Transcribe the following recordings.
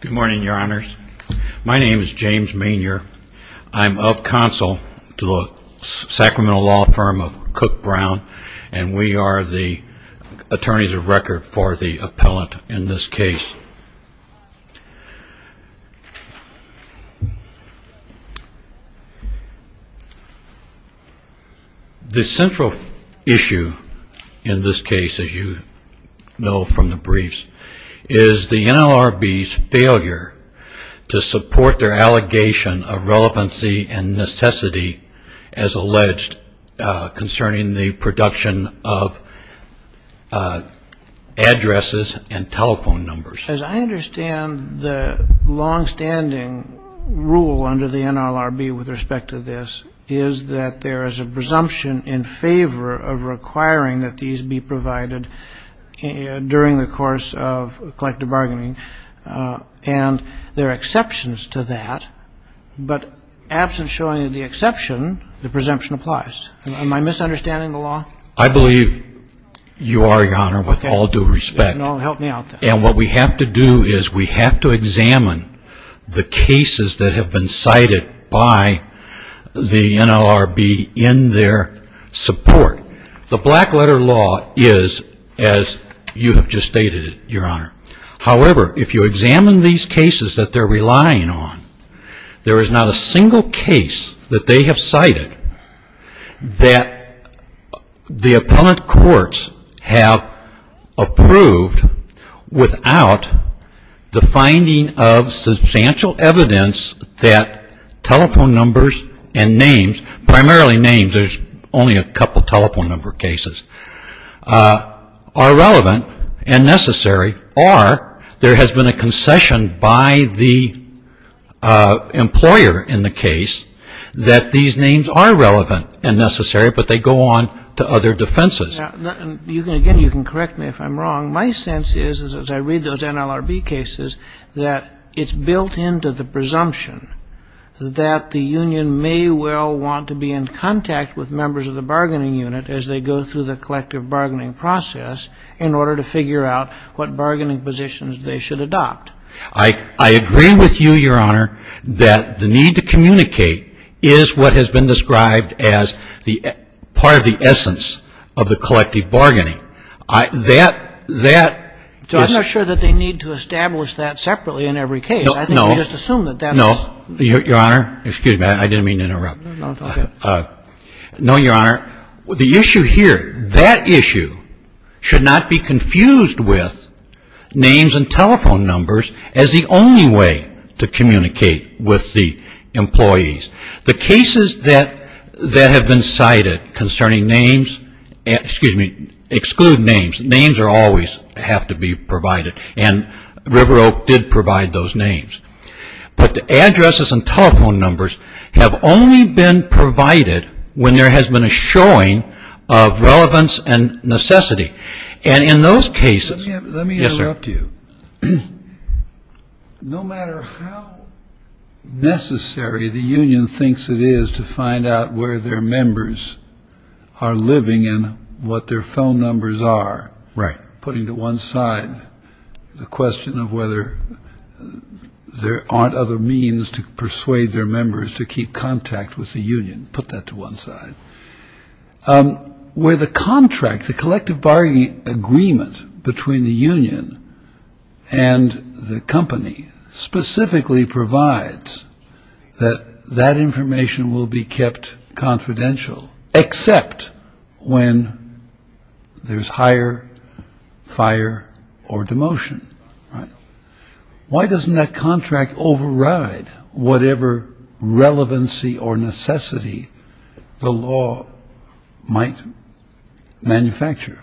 Good morning, your honors. My name is James Maynier. I'm of counsel to the Sacramento law firm of Cook Brown, and we are the attorneys of record for the appellant in this case. The central issue in this case, as you know from the briefs, is the NLRB's failure to support their allegation of relevancy and necessity as alleged concerning the production of addresses and telephone numbers. As I understand, the longstanding rule under the NLRB with respect to this is that there is a presumption in favor of requiring that these be provided during the course of collective bargaining, and there are exceptions to that, but absent showing the exception, the presumption applies. Am I misunderstanding the law? I believe you are, your honor, with all due respect, and what we have to do is we have to examine the cases that have been cited by the NLRB in their support. The black letter law is as you have just stated it, your honor, however, if you examine these cases that they're relying on, there is not a single case that they have cited that the appellant courts have approved without the finding of substantial evidence that telephone numbers and names, primarily names. There's only a couple telephone number cases, are relevant and necessary, or there has been a concession by the employer in the case that these names are relevant and necessary, but they go on to other defenses. Again, you can correct me if I'm wrong. My sense is, as I read those NLRB cases, that it's built into the presumption that the union may well want to be in contact with members of the bargaining unit as they go through the collective bargaining process in order to figure out what bargaining positions they should adopt. I agree with you, your honor, that the need to communicate is what has been described as the part of the essence of the collective bargaining. That, that is — So I'm not sure that they need to establish that separately in every case. No, no. I think we just assume that that's — No, your honor. Excuse me. I didn't mean to interrupt. No, go ahead. to communicate with the employees. The cases that have been cited concerning names — excuse me — exclude names. Names always have to be provided, and River Oak did provide those names. But the addresses and telephone numbers have only been provided when there has been a showing of relevance and necessity. And in those cases — Let me interrupt you. No matter how necessary the union thinks it is to find out where their members are living and what their phone numbers are — Right. — putting to one side the question of whether there aren't other means to persuade their members to keep contact with the union, put that to one side. Where the contract, the collective bargaining agreement between the union and the company, specifically provides that that information will be kept confidential, except when there's hire, fire, or demotion. Why doesn't that contract override whatever relevancy or necessity the law might manufacture?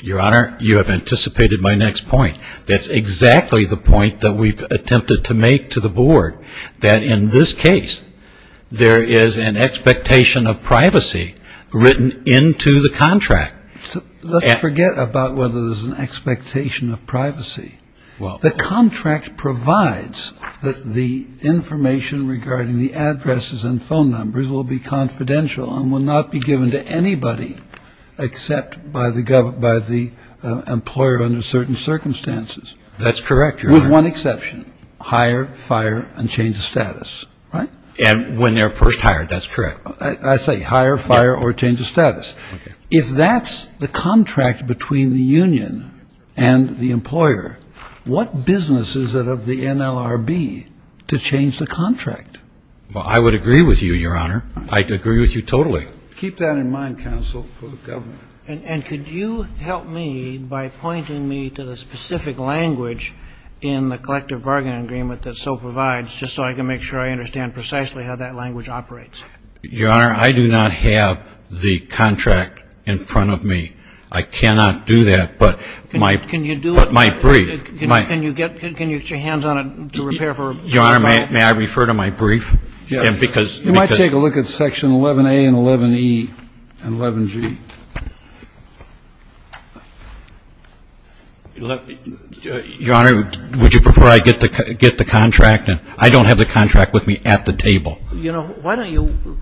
Your honor, you have anticipated my next point. That's exactly the point that we've attempted to make to the board, that in this case, there is an expectation of privacy written into the contract. Let's forget about whether there's an expectation of privacy. The contract provides that the information regarding the addresses and phone numbers will be confidential and will not be given to anybody except by the employer under certain circumstances. That's correct, Your Honor. With one exception. Hire, fire, and change of status. And when they're first hired, that's correct. I say hire, fire, or change of status. If that's the contract between the union and the employer, what business is it of the NLRB to change the contract? Well, I would agree with you, Your Honor. I agree with you totally. Keep that in mind, counsel, for the government. And could you help me by pointing me to the specific language in the collective bargaining agreement that so provides, just so I can make sure I understand precisely how that language operates? Your Honor, I do not have the contract in front of me. I cannot do that, but my brief. Can you do it? Can you get your hands on it to repair for a brief? Your Honor, may I refer to my brief? Yes. You might take a look at section 11a and 11e and 11g. Your Honor, would you prefer I get the contract? I don't have the contract with me at the table. You know, why don't you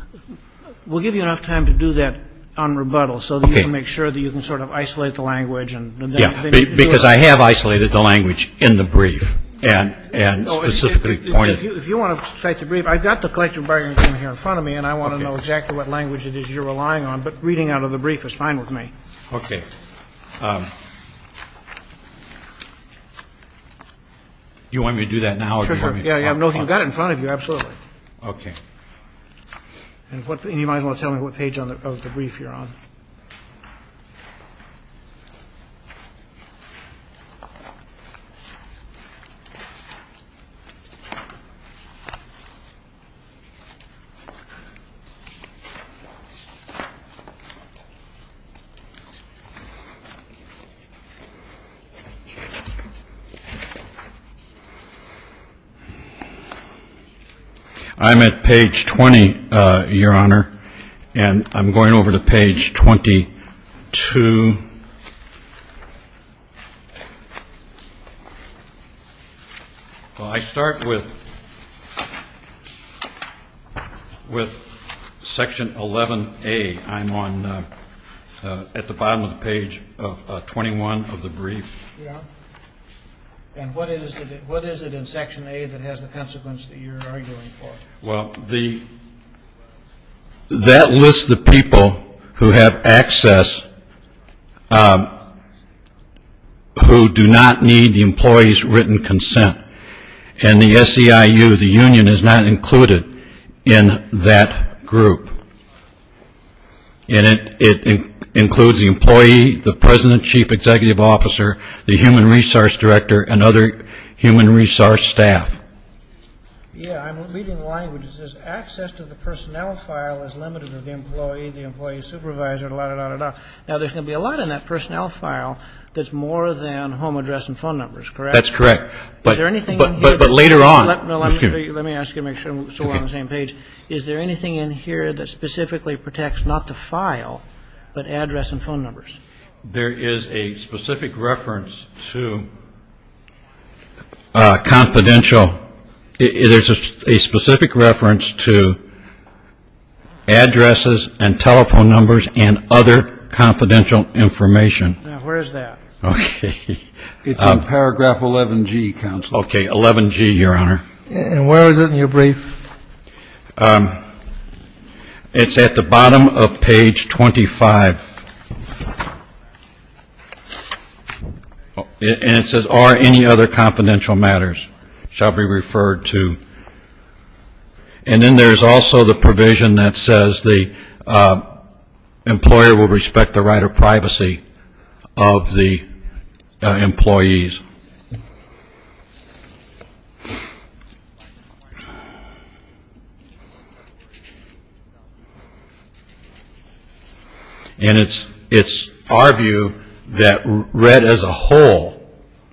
we'll give you enough time to do that on rebuttal, so that you can make sure that you can sort of isolate the language. Yeah, because I have isolated the language in the brief and specifically pointed. If you want to cite the brief, I've got the collective bargaining agreement here in front of me, and I want to know exactly what language it is you're relying on. But reading out of the brief is fine with me. Okay. Do you want me to do that now? Sure, sure. No, you've got it in front of you, absolutely. Okay. And you might as well tell me what page of the brief you're on. I'm at page 20, Your Honor, and I'm going over to page 22. Well, I start with section 11a. I'm at the bottom of the page 21 of the brief. Yeah. And what is it in section a that has the consequence that you're arguing for? Well, that lists the people who have access who do not need the employee's written consent. And the SEIU, the union, is not included in that group. And it includes the employee, the president, chief executive officer, the human resource director, and other human resource staff. Yeah, I'm reading the language. It says, Access to the personnel file is limited to the employee, the employee supervisor, da-da-da-da-da. Now, there's going to be a lot in that personnel file that's more than home address and phone numbers, correct? That's correct. Is there anything in here? But later on. Let me ask you to make sure we're still on the same page. Is there anything in here that specifically protects not the file but address and phone numbers? There is a specific reference to confidential. There's a specific reference to addresses and telephone numbers and other confidential information. Now, where is that? Okay. It's in paragraph 11G, counsel. Okay, 11G, Your Honor. And where is it in your brief? It's at the bottom of page 25. And it says, Are any other confidential matters shall be referred to? And then there's also the provision that says the employer will respect the right of privacy of the employees. And it's our view that red as a whole,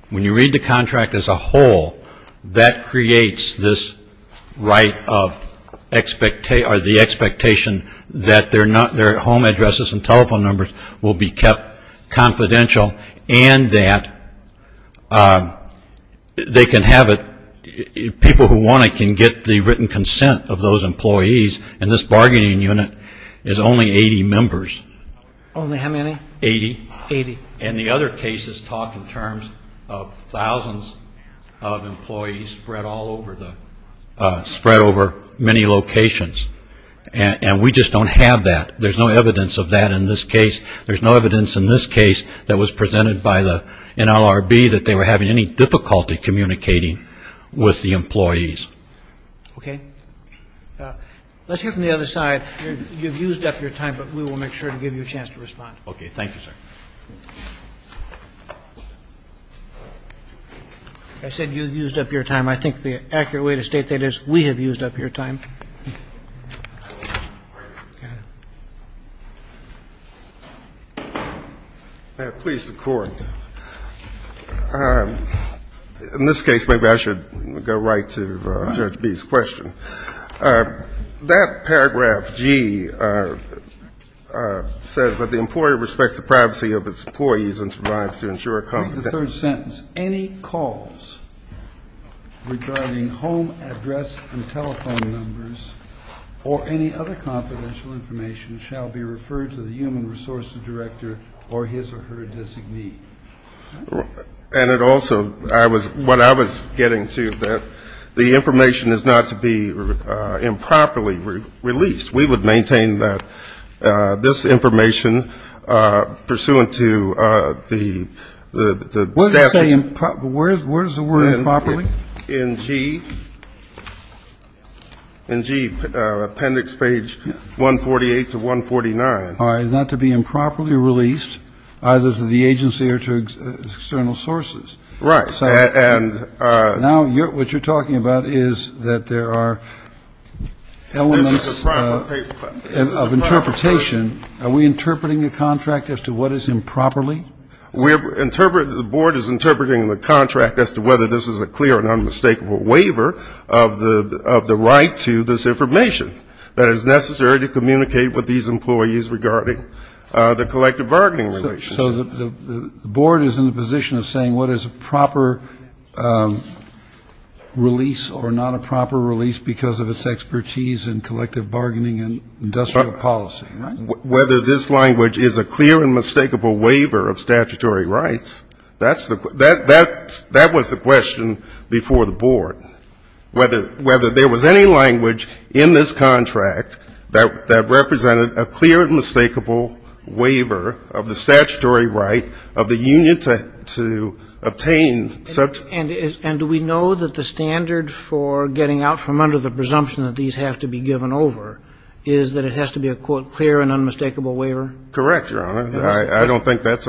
when you read the contract as a whole, that creates the expectation that their home addresses and telephone numbers will be kept confidential and that people who want it can get the written consent of those employees. And this bargaining unit is only 80 members. Only how many? Eighty. Eighty. And the other cases talk in terms of thousands of employees spread over many locations. And we just don't have that. There's no evidence of that in this case. There's no evidence in this case that was presented by the NLRB that they were having any difficulty communicating with the employees. Okay. Let's hear from the other side. You've used up your time, but we will make sure to give you a chance to respond. Okay. Thank you, sir. I said you've used up your time. I think the accurate way to state that is we have used up your time. Please, the Court. In this case, maybe I should go right to Judge B's question. That paragraph, G, says that the employer respects the privacy of its employees and survives to ensure confidentiality. Read the third sentence. Any calls regarding home address and telephone numbers or any other confidential information shall be referred to the human resources director or his or her designee. And it also, I was, what I was getting to, that the information is not to be improperly released. We would maintain that this information pursuant to the staff. Where does it say improperly? In G. In G, appendix page 148 to 149. All right. It's not to be improperly released either to the agency or to external sources. Right. And now what you're talking about is that there are elements of interpretation. Are we interpreting the contract as to what is improperly? The board is interpreting the contract as to whether this is a clear and unmistakable waiver of the right to this information that is necessary to communicate with these employees regarding the collective bargaining relationship. So the board is in the position of saying what is a proper release or not a proper release because of its expertise in collective bargaining and industrial policy. Whether this language is a clear and mistakable waiver of statutory rights, that was the question before the board. Whether there was any language in this contract that represented a clear and mistakable waiver of the statutory right of the union to obtain such. And do we know that the standard for getting out from under the presumption that these have to be given over is that it has to be a, quote, clear and unmistakable waiver? Correct, Your Honor. I don't think that's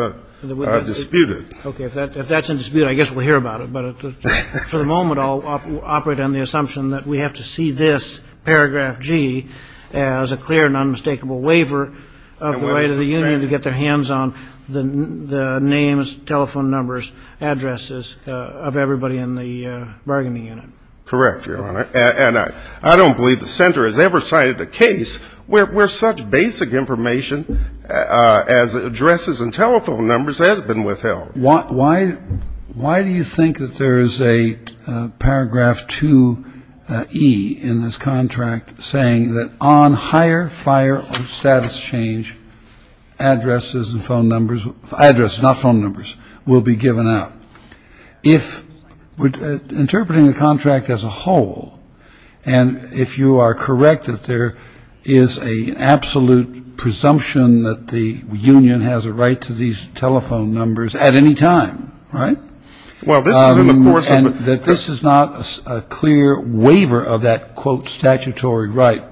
disputed. Okay. If that's in dispute, I guess we'll hear about it. But for the moment, I'll operate on the assumption that we have to see this paragraph G as a clear and unmistakable waiver of the right of the union to get their hands on the names, telephone numbers, addresses of everybody in the bargaining unit. Correct, Your Honor. And I don't believe the center has ever cited a case where such basic information as addresses and telephone numbers has been withheld. Why do you think that there is a paragraph 2E in this contract saying that on higher fire of status change, addresses and phone numbers, addresses, not phone numbers, will be given out? If interpreting the contract as a whole, and if you are correct that there is an absolute presumption that the union has a right to these telephone numbers at any time, right? Well, this is in the course of a And that this is not a clear waiver of that, quote, statutory right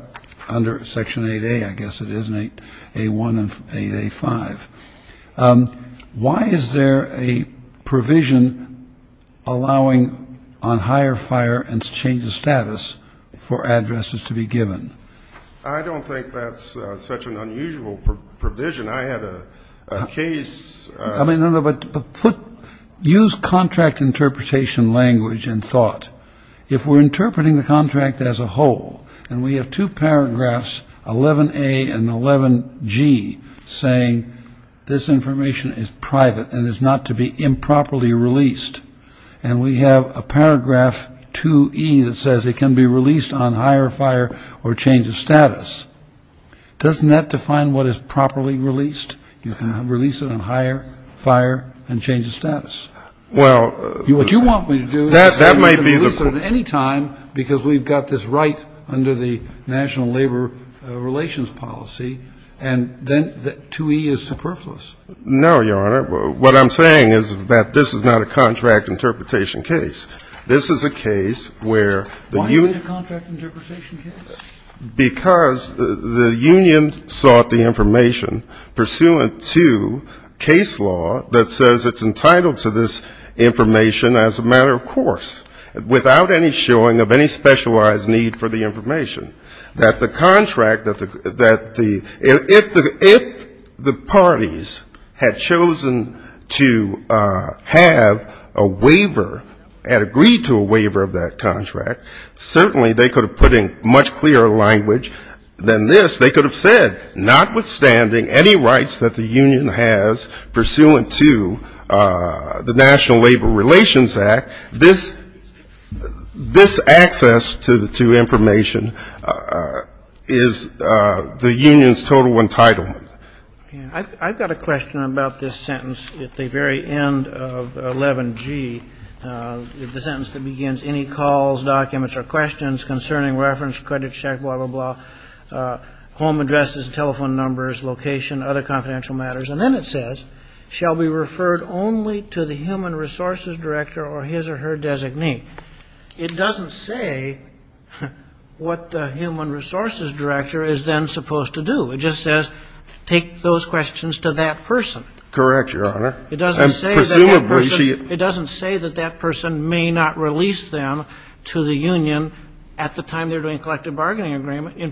under Section 8A, I guess it is, 8A1 and 8A5. Why is there a provision allowing on higher fire and change of status for addresses to be given? I don't think that's such an unusual provision. I had a case. I mean, no, no, but use contract interpretation language and thought. If we're interpreting the contract as a whole, and we have two paragraphs, 11A and 11G, saying this information is private and is not to be improperly released, and we have a paragraph 2E that says it can be released on higher fire or change of status, doesn't that define what is properly released? You can release it on higher fire and change of status. What you want me to do is say you can release it at any time because we've got this right under the national labor relations policy, and then 2E is superfluous. No, Your Honor. What I'm saying is that this is not a contract interpretation case. This is a case where the union. Why isn't it a contract interpretation case? Because the union sought the information pursuant to case law that says it's entitled to this information as a matter of course, without any showing of any specialized need for the information. If the parties had chosen to have a waiver, had agreed to a waiver of that contract, certainly they could have put in much clearer language than this. They could have said notwithstanding any rights that the union has pursuant to the National Labor Relations Act, this access to information is the union's total entitlement. I've got a question about this sentence at the very end of 11G. The sentence that begins, Any calls, documents, or questions concerning reference, credit check, blah, blah, blah, home addresses, telephone numbers, location, other confidential matters. And then it says, Shall be referred only to the human resources director or his or her designee. It doesn't say what the human resources director is then supposed to do. It just says take those questions to that person. Correct, Your Honor. It doesn't say that that person may not release them to the union at the time they're doing collective bargaining agreement in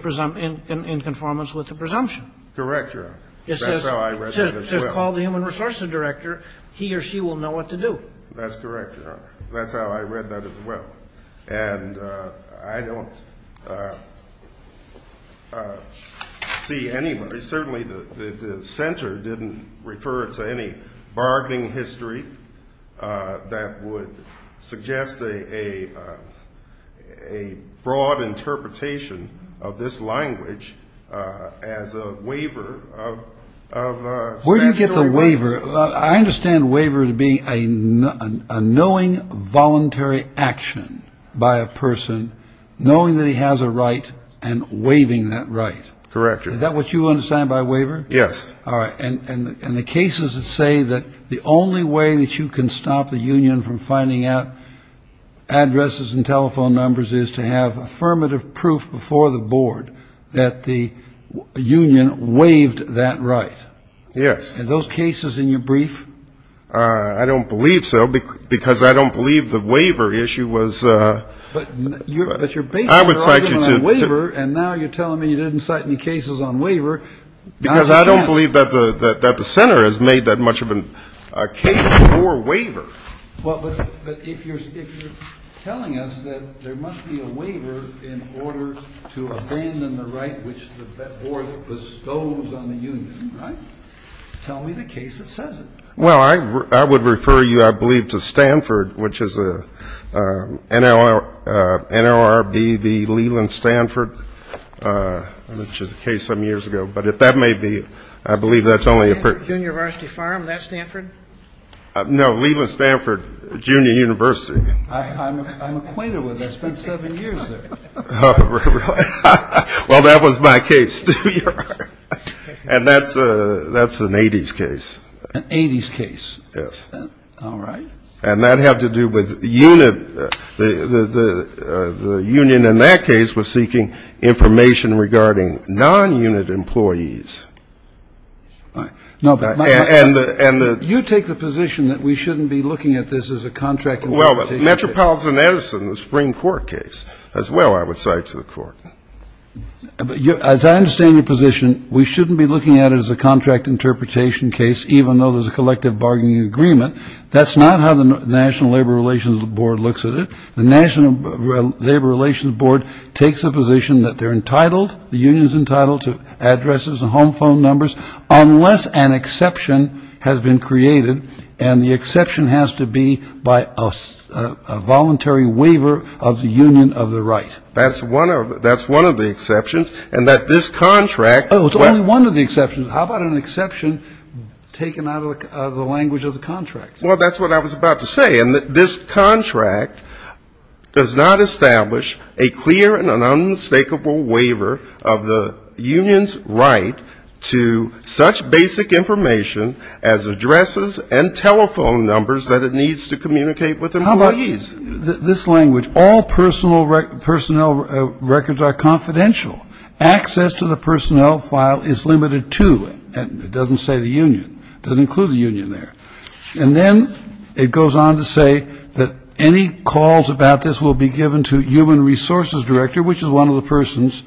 conformance with the presumption. Correct, Your Honor. That's how I read it as well. It says call the human resources director. He or she will know what to do. That's correct, Your Honor. That's how I read that as well. And I don't see anyway. Certainly the center didn't refer to any bargaining history that would suggest a broad interpretation of this language as a waiver of statutory rights. Where do you get the waiver? I understand waiver to be a knowing voluntary action by a person knowing that he has a right and waiving that right. Correct, Your Honor. Is that what you understand by waiver? Yes. All right. And the case is to say that the only way that you can stop the union from finding out addresses and telephone numbers is to have affirmative proof before the board that the union waived that right. Yes. Are those cases in your brief? I don't believe so because I don't believe the waiver issue was. But you're basing it on a waiver and now you're telling me you didn't cite any cases on waiver. Because I don't believe that the center has made that much of a case for waiver. Well, but if you're telling us that there must be a waiver in order to abandon the right which the board bestows on the union, right, tell me the case that says it. Well, I would refer you, I believe, to Stanford, which is NLRBV Leland Stanford, which is a case some years ago. But if that may be, I believe that's only a. Junior Varsity Farm, that's Stanford? No, Leland Stanford Junior University. I'm acquainted with it. I spent seven years there. Well, that was my case, too. And that's an 80s case. An 80s case. Yes. All right. And that had to do with the union in that case was seeking information regarding non-unit employees. All right. You take the position that we shouldn't be looking at this as a contract interpretation case. Well, Metropolitan Edison, the Supreme Court case, as well I would cite to the court. As I understand your position, we shouldn't be looking at it as a contract interpretation case, even though there's a collective bargaining agreement. That's not how the National Labor Relations Board looks at it. The National Labor Relations Board takes the position that they're entitled, the union's entitled to addresses and home phone numbers unless an exception has been created, and the exception has to be by a voluntary waiver of the union of the right. That's one of the exceptions, and that this contract. Oh, it's only one of the exceptions. How about an exception taken out of the language of the contract? Well, that's what I was about to say. And this contract does not establish a clear and an unmistakable waiver of the union's right to such basic information as addresses and telephone numbers that it needs to communicate with employees. How about this language? All personnel records are confidential. Access to the personnel file is limited to. It doesn't say the union. It doesn't include the union there. And then it goes on to say that any calls about this will be given to human resources director, which is one of the persons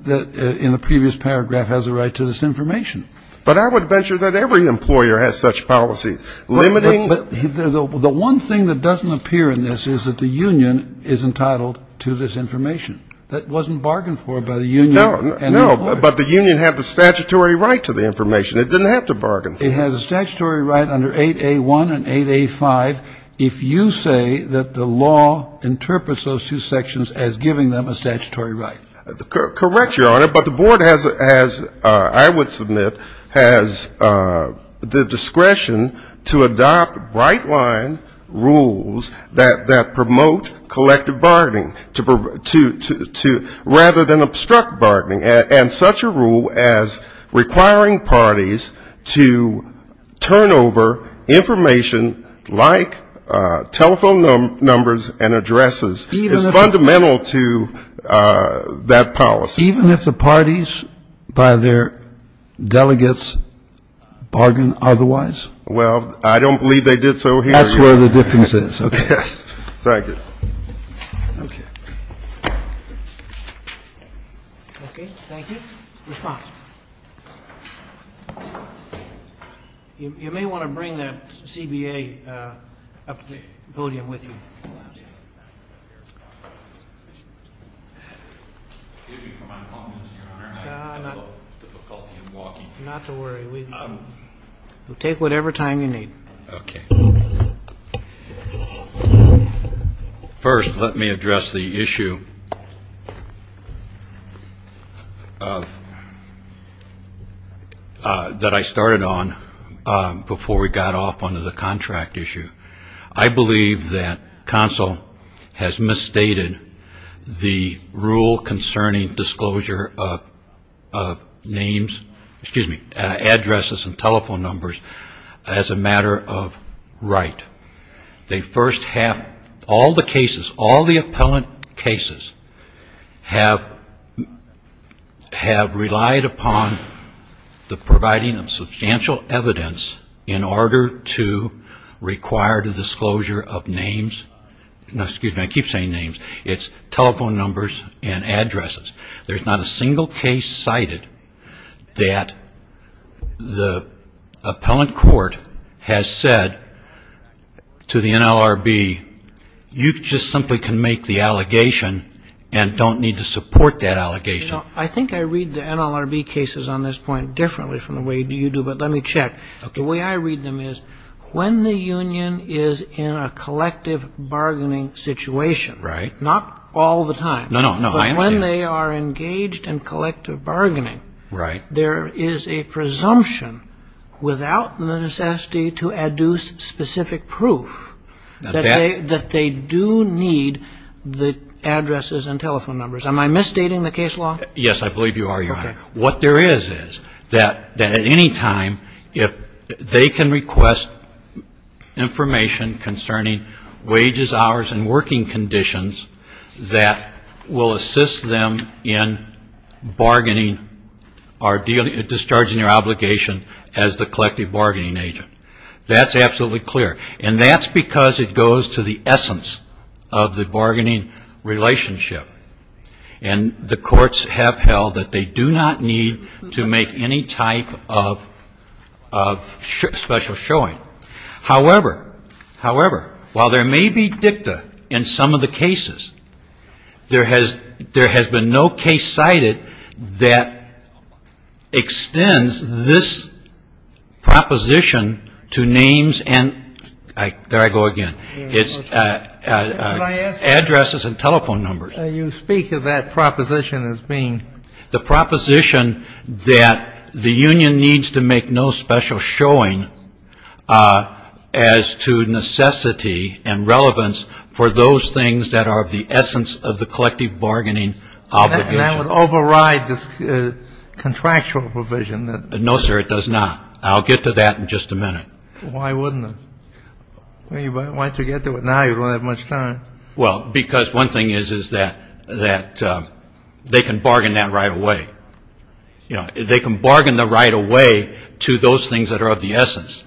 that in the previous paragraph has a right to this information. But I would venture that every employer has such policy. Limiting. The one thing that doesn't appear in this is that the union is entitled to this information. That wasn't bargained for by the union. No, but the union had the statutory right to the information. It didn't have to bargain for it. The union has a statutory right under 8A1 and 8A5, if you say that the law interprets those two sections as giving them a statutory right. Correct, Your Honor, but the board has, I would submit, has the discretion to adopt bright-line rules that promote collective bargaining rather than obstruct bargaining. And such a rule as requiring parties to turn over information like telephone numbers and addresses is fundamental to that policy. Even if the parties by their delegates bargain otherwise? Well, I don't believe they did so here. That's where the difference is. Okay. Thank you. Okay. Okay. Thank you. Response. You may want to bring that CBA up to the podium with you. Excuse me for my incompetence, Your Honor. I have a little difficulty in walking. Not to worry. We'll take whatever time you need. Okay. First, let me address the issue that I started on before we got off onto the contract issue. I believe that counsel has misstated the rule concerning disclosure of names, excuse me, addresses and telephone numbers as a matter of right. They first have all the cases, all the appellant cases, have relied upon the providing of substantial evidence in order to require the disclosure of names. Now, excuse me, I keep saying names. It's telephone numbers and addresses. There's not a single case cited that the appellant court has said to the NLRB, you just simply can make the allegation and don't need to support that allegation. I think I read the NLRB cases on this point differently from the way you do, but let me check. The way I read them is when the union is in a collective bargaining situation, not all the time. No, no, I understand. But when they are engaged in collective bargaining, there is a presumption without the necessity to adduce specific proof that they do need the addresses and telephone numbers. Am I misstating the case law? What there is is that at any time if they can request information concerning wages, hours and working conditions that will assist them in bargaining or discharging their obligation as the collective bargaining agent. That's absolutely clear. And that's because it goes to the essence of the bargaining relationship. And the courts have held that they do not need to make any type of special showing. However, however, while there may be dicta in some of the cases, there has been no case cited that extends this proposition to names and, there I go again, addresses and telephone numbers. You speak of that proposition as being. The proposition that the union needs to make no special showing as to necessity and relevance for those things that are of the essence of the collective bargaining obligation. And that would override this contractual provision. No, sir, it does not. I'll get to that in just a minute. Why wouldn't it? Why don't you get to it now? You don't have much time. Well, because one thing is that they can bargain that right away. You know, they can bargain the right away to those things that are of the essence.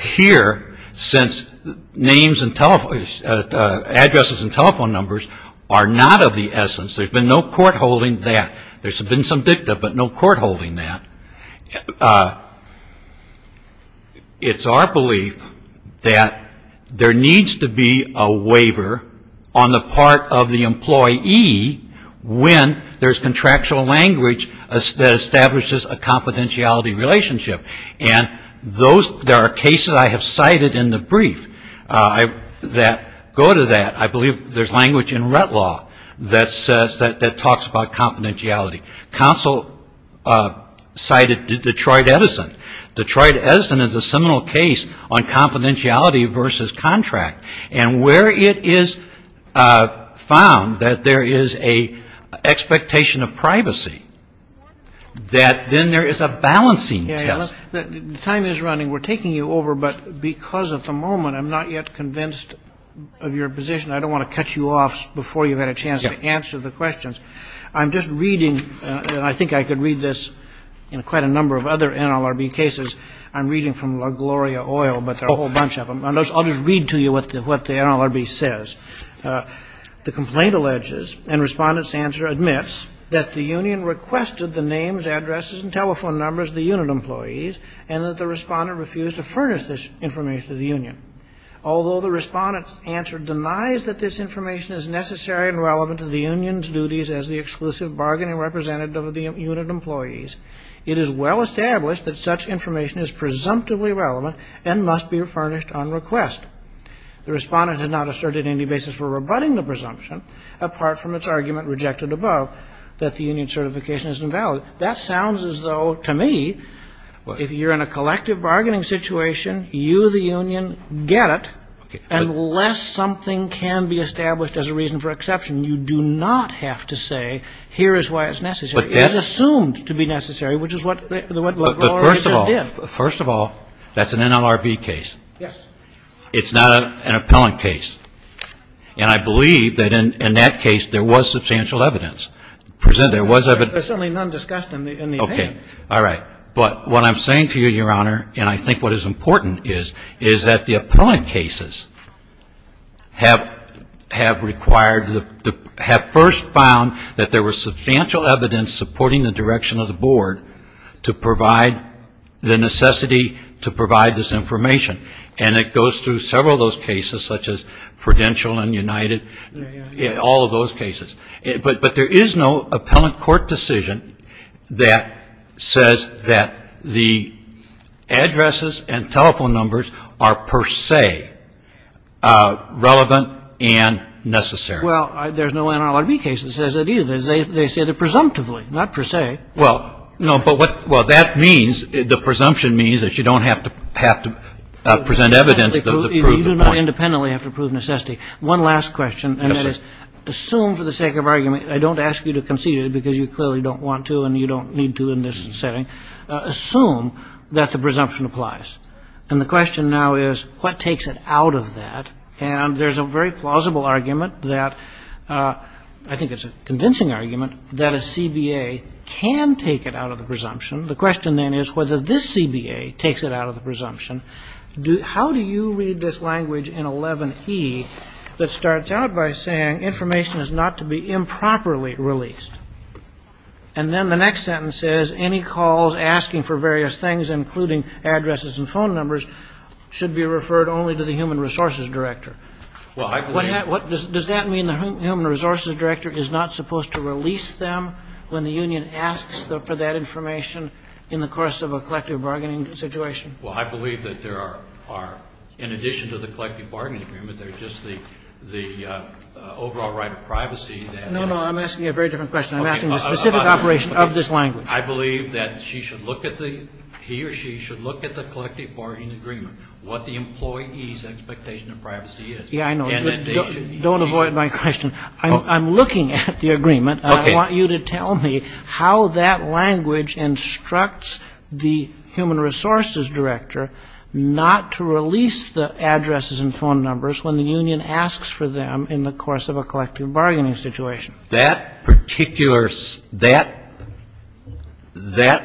Here, since names and telephone, addresses and telephone numbers are not of the essence, there's been no court holding that. There's been some dicta, but no court holding that. It's our belief that there needs to be a waiver on the part of the employee when there's contractual language that establishes a confidentiality relationship. And there are cases I have cited in the brief that go to that. I believe there's language in Rett Law that talks about confidentiality. Counsel cited Detroit Edison. Detroit Edison is a seminal case on confidentiality versus contract. And where it is found that there is an expectation of privacy, that then there is a balancing test. The time is running. We're taking you over, but because at the moment I'm not yet convinced of your position, I don't want to cut you off before you've had a chance to answer the questions. I'm just reading, and I think I could read this in quite a number of other NLRB cases. I'm reading from LaGloria Oil, but there are a whole bunch of them. I'll just read to you what the NLRB says. The complaint alleges, and Respondent's answer admits, that the union requested the names, addresses, and telephone numbers of the unit employees and that the Respondent refused to furnish this information to the union. Although the Respondent's answer denies that this information is necessary and relevant to the union's duties as the exclusive bargaining representative of the unit employees, it is well established that such information is presumptively relevant and must be furnished on request. The Respondent has not asserted any basis for rebutting the presumption, apart from its argument rejected above, that the union's certification is invalid. That sounds as though, to me, if you're in a collective bargaining situation, get it, unless something can be established as a reason for exception. You do not have to say, here is why it's necessary. It is assumed to be necessary, which is what LaGloria did. First of all, that's an NLRB case. Yes. It's not an appellant case. And I believe that in that case there was substantial evidence. There was evidence. There's certainly none discussed in the opinion. All right. But what I'm saying to you, Your Honor, and I think what is important is, is that the appellant cases have required the ‑‑ have first found that there was substantial evidence supporting the direction of the board to provide the necessity to provide this information. And it goes through several of those cases, such as Prudential and United, all of those cases. But there is no appellant court decision that says that the addresses and telephone numbers are per se relevant and necessary. Well, there's no NLRB case that says that either. They say that presumptively, not per se. Well, no. But what ‑‑ well, that means, the presumption means that you don't have to present evidence to prove it. You do not independently have to prove necessity. One last question. And that is, assume for the sake of argument, I don't ask you to concede it because you clearly don't want to and you don't need to in this setting. Assume that the presumption applies. And the question now is, what takes it out of that? And there's a very plausible argument that, I think it's a convincing argument, that a CBA can take it out of the presumption. The question then is whether this CBA takes it out of the presumption. How do you read this language in 11E that starts out by saying, information is not to be improperly released? And then the next sentence says, any calls asking for various things, including addresses and phone numbers, should be referred only to the human resources director. Well, I believe ‑‑ Does that mean the human resources director is not supposed to release them when the union asks for that information in the course of a collective bargaining situation? Well, I believe that there are, in addition to the collective bargaining agreement, there's just the overall right of privacy. No, no, I'm asking a very different question. I'm asking the specific operation of this language. I believe that she should look at the, he or she should look at the collective bargaining agreement, what the employee's expectation of privacy is. Yeah, I know. Don't avoid my question. I'm looking at the agreement. Okay. I want you to tell me how that language instructs the human resources director not to release the addresses and phone numbers when the union asks for them in the course of a collective bargaining situation. That particular, that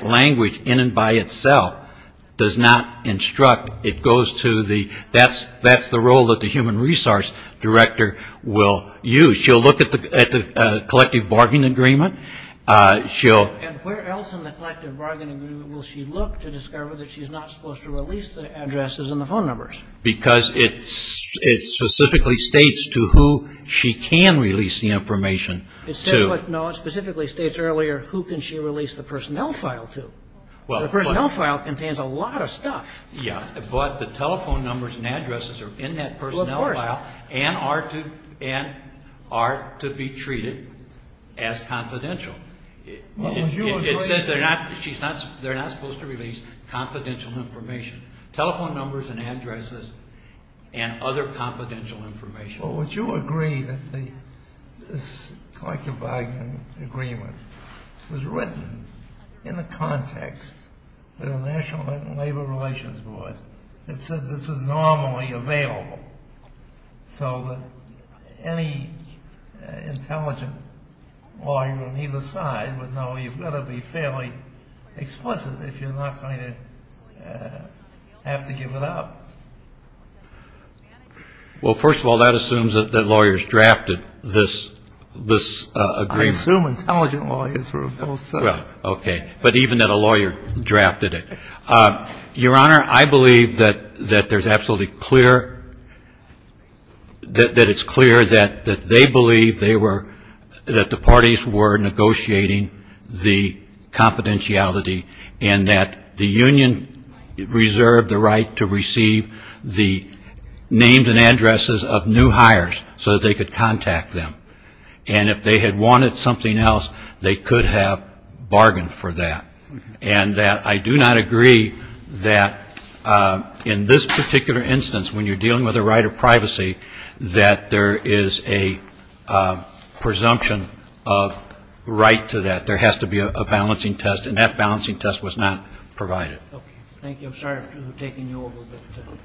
language in and by itself does not instruct. It goes to the, that's the role that the human resource director will use. She'll look at the collective bargaining agreement. She'll. And where else in the collective bargaining agreement will she look to discover that she's not supposed to release the addresses and the phone numbers? Because it specifically states to who she can release the information to. No, it specifically states earlier who can she release the personnel file to. The personnel file contains a lot of stuff. Yeah. But the telephone numbers and addresses are in that personnel file. Of course. And are to be treated as confidential. It says they're not supposed to release confidential information. Telephone numbers and addresses and other confidential information. Well, would you agree that this collective bargaining agreement was written in the context of the National Labor Relations Board that said this is normally available so that any intelligent lawyer on either side would know you've got to be fairly explicit if you're not going to have to give it up? Well, first of all, that assumes that lawyers drafted this agreement. I assume intelligent lawyers were both. Well, okay. But even that a lawyer drafted it. Your Honor, I believe that there's absolutely clear, that it's clear that they believe they were, that the parties were negotiating the confidentiality and that the union reserved the right to receive the names and addresses of new hires so that they could contact them. And if they had wanted something else, they could have bargained for that. And that I do not agree that in this particular instance, when you're dealing with a right of privacy, that there is a presumption of right to that. There has to be a balancing test. And that balancing test was not provided. Okay. Thank you. I'm sorry for taking you over.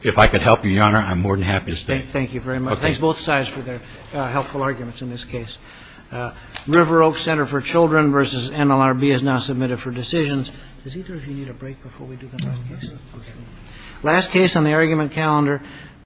If I could help you, Your Honor, I'm more than happy to stay. Thank you very much. Thanks both sides for their helpful arguments in this case. River Oaks Center for Children v. NLRB is now submitted for decisions. Is either of you need a break before we do the next case? Okay. Last case on the argument calendar.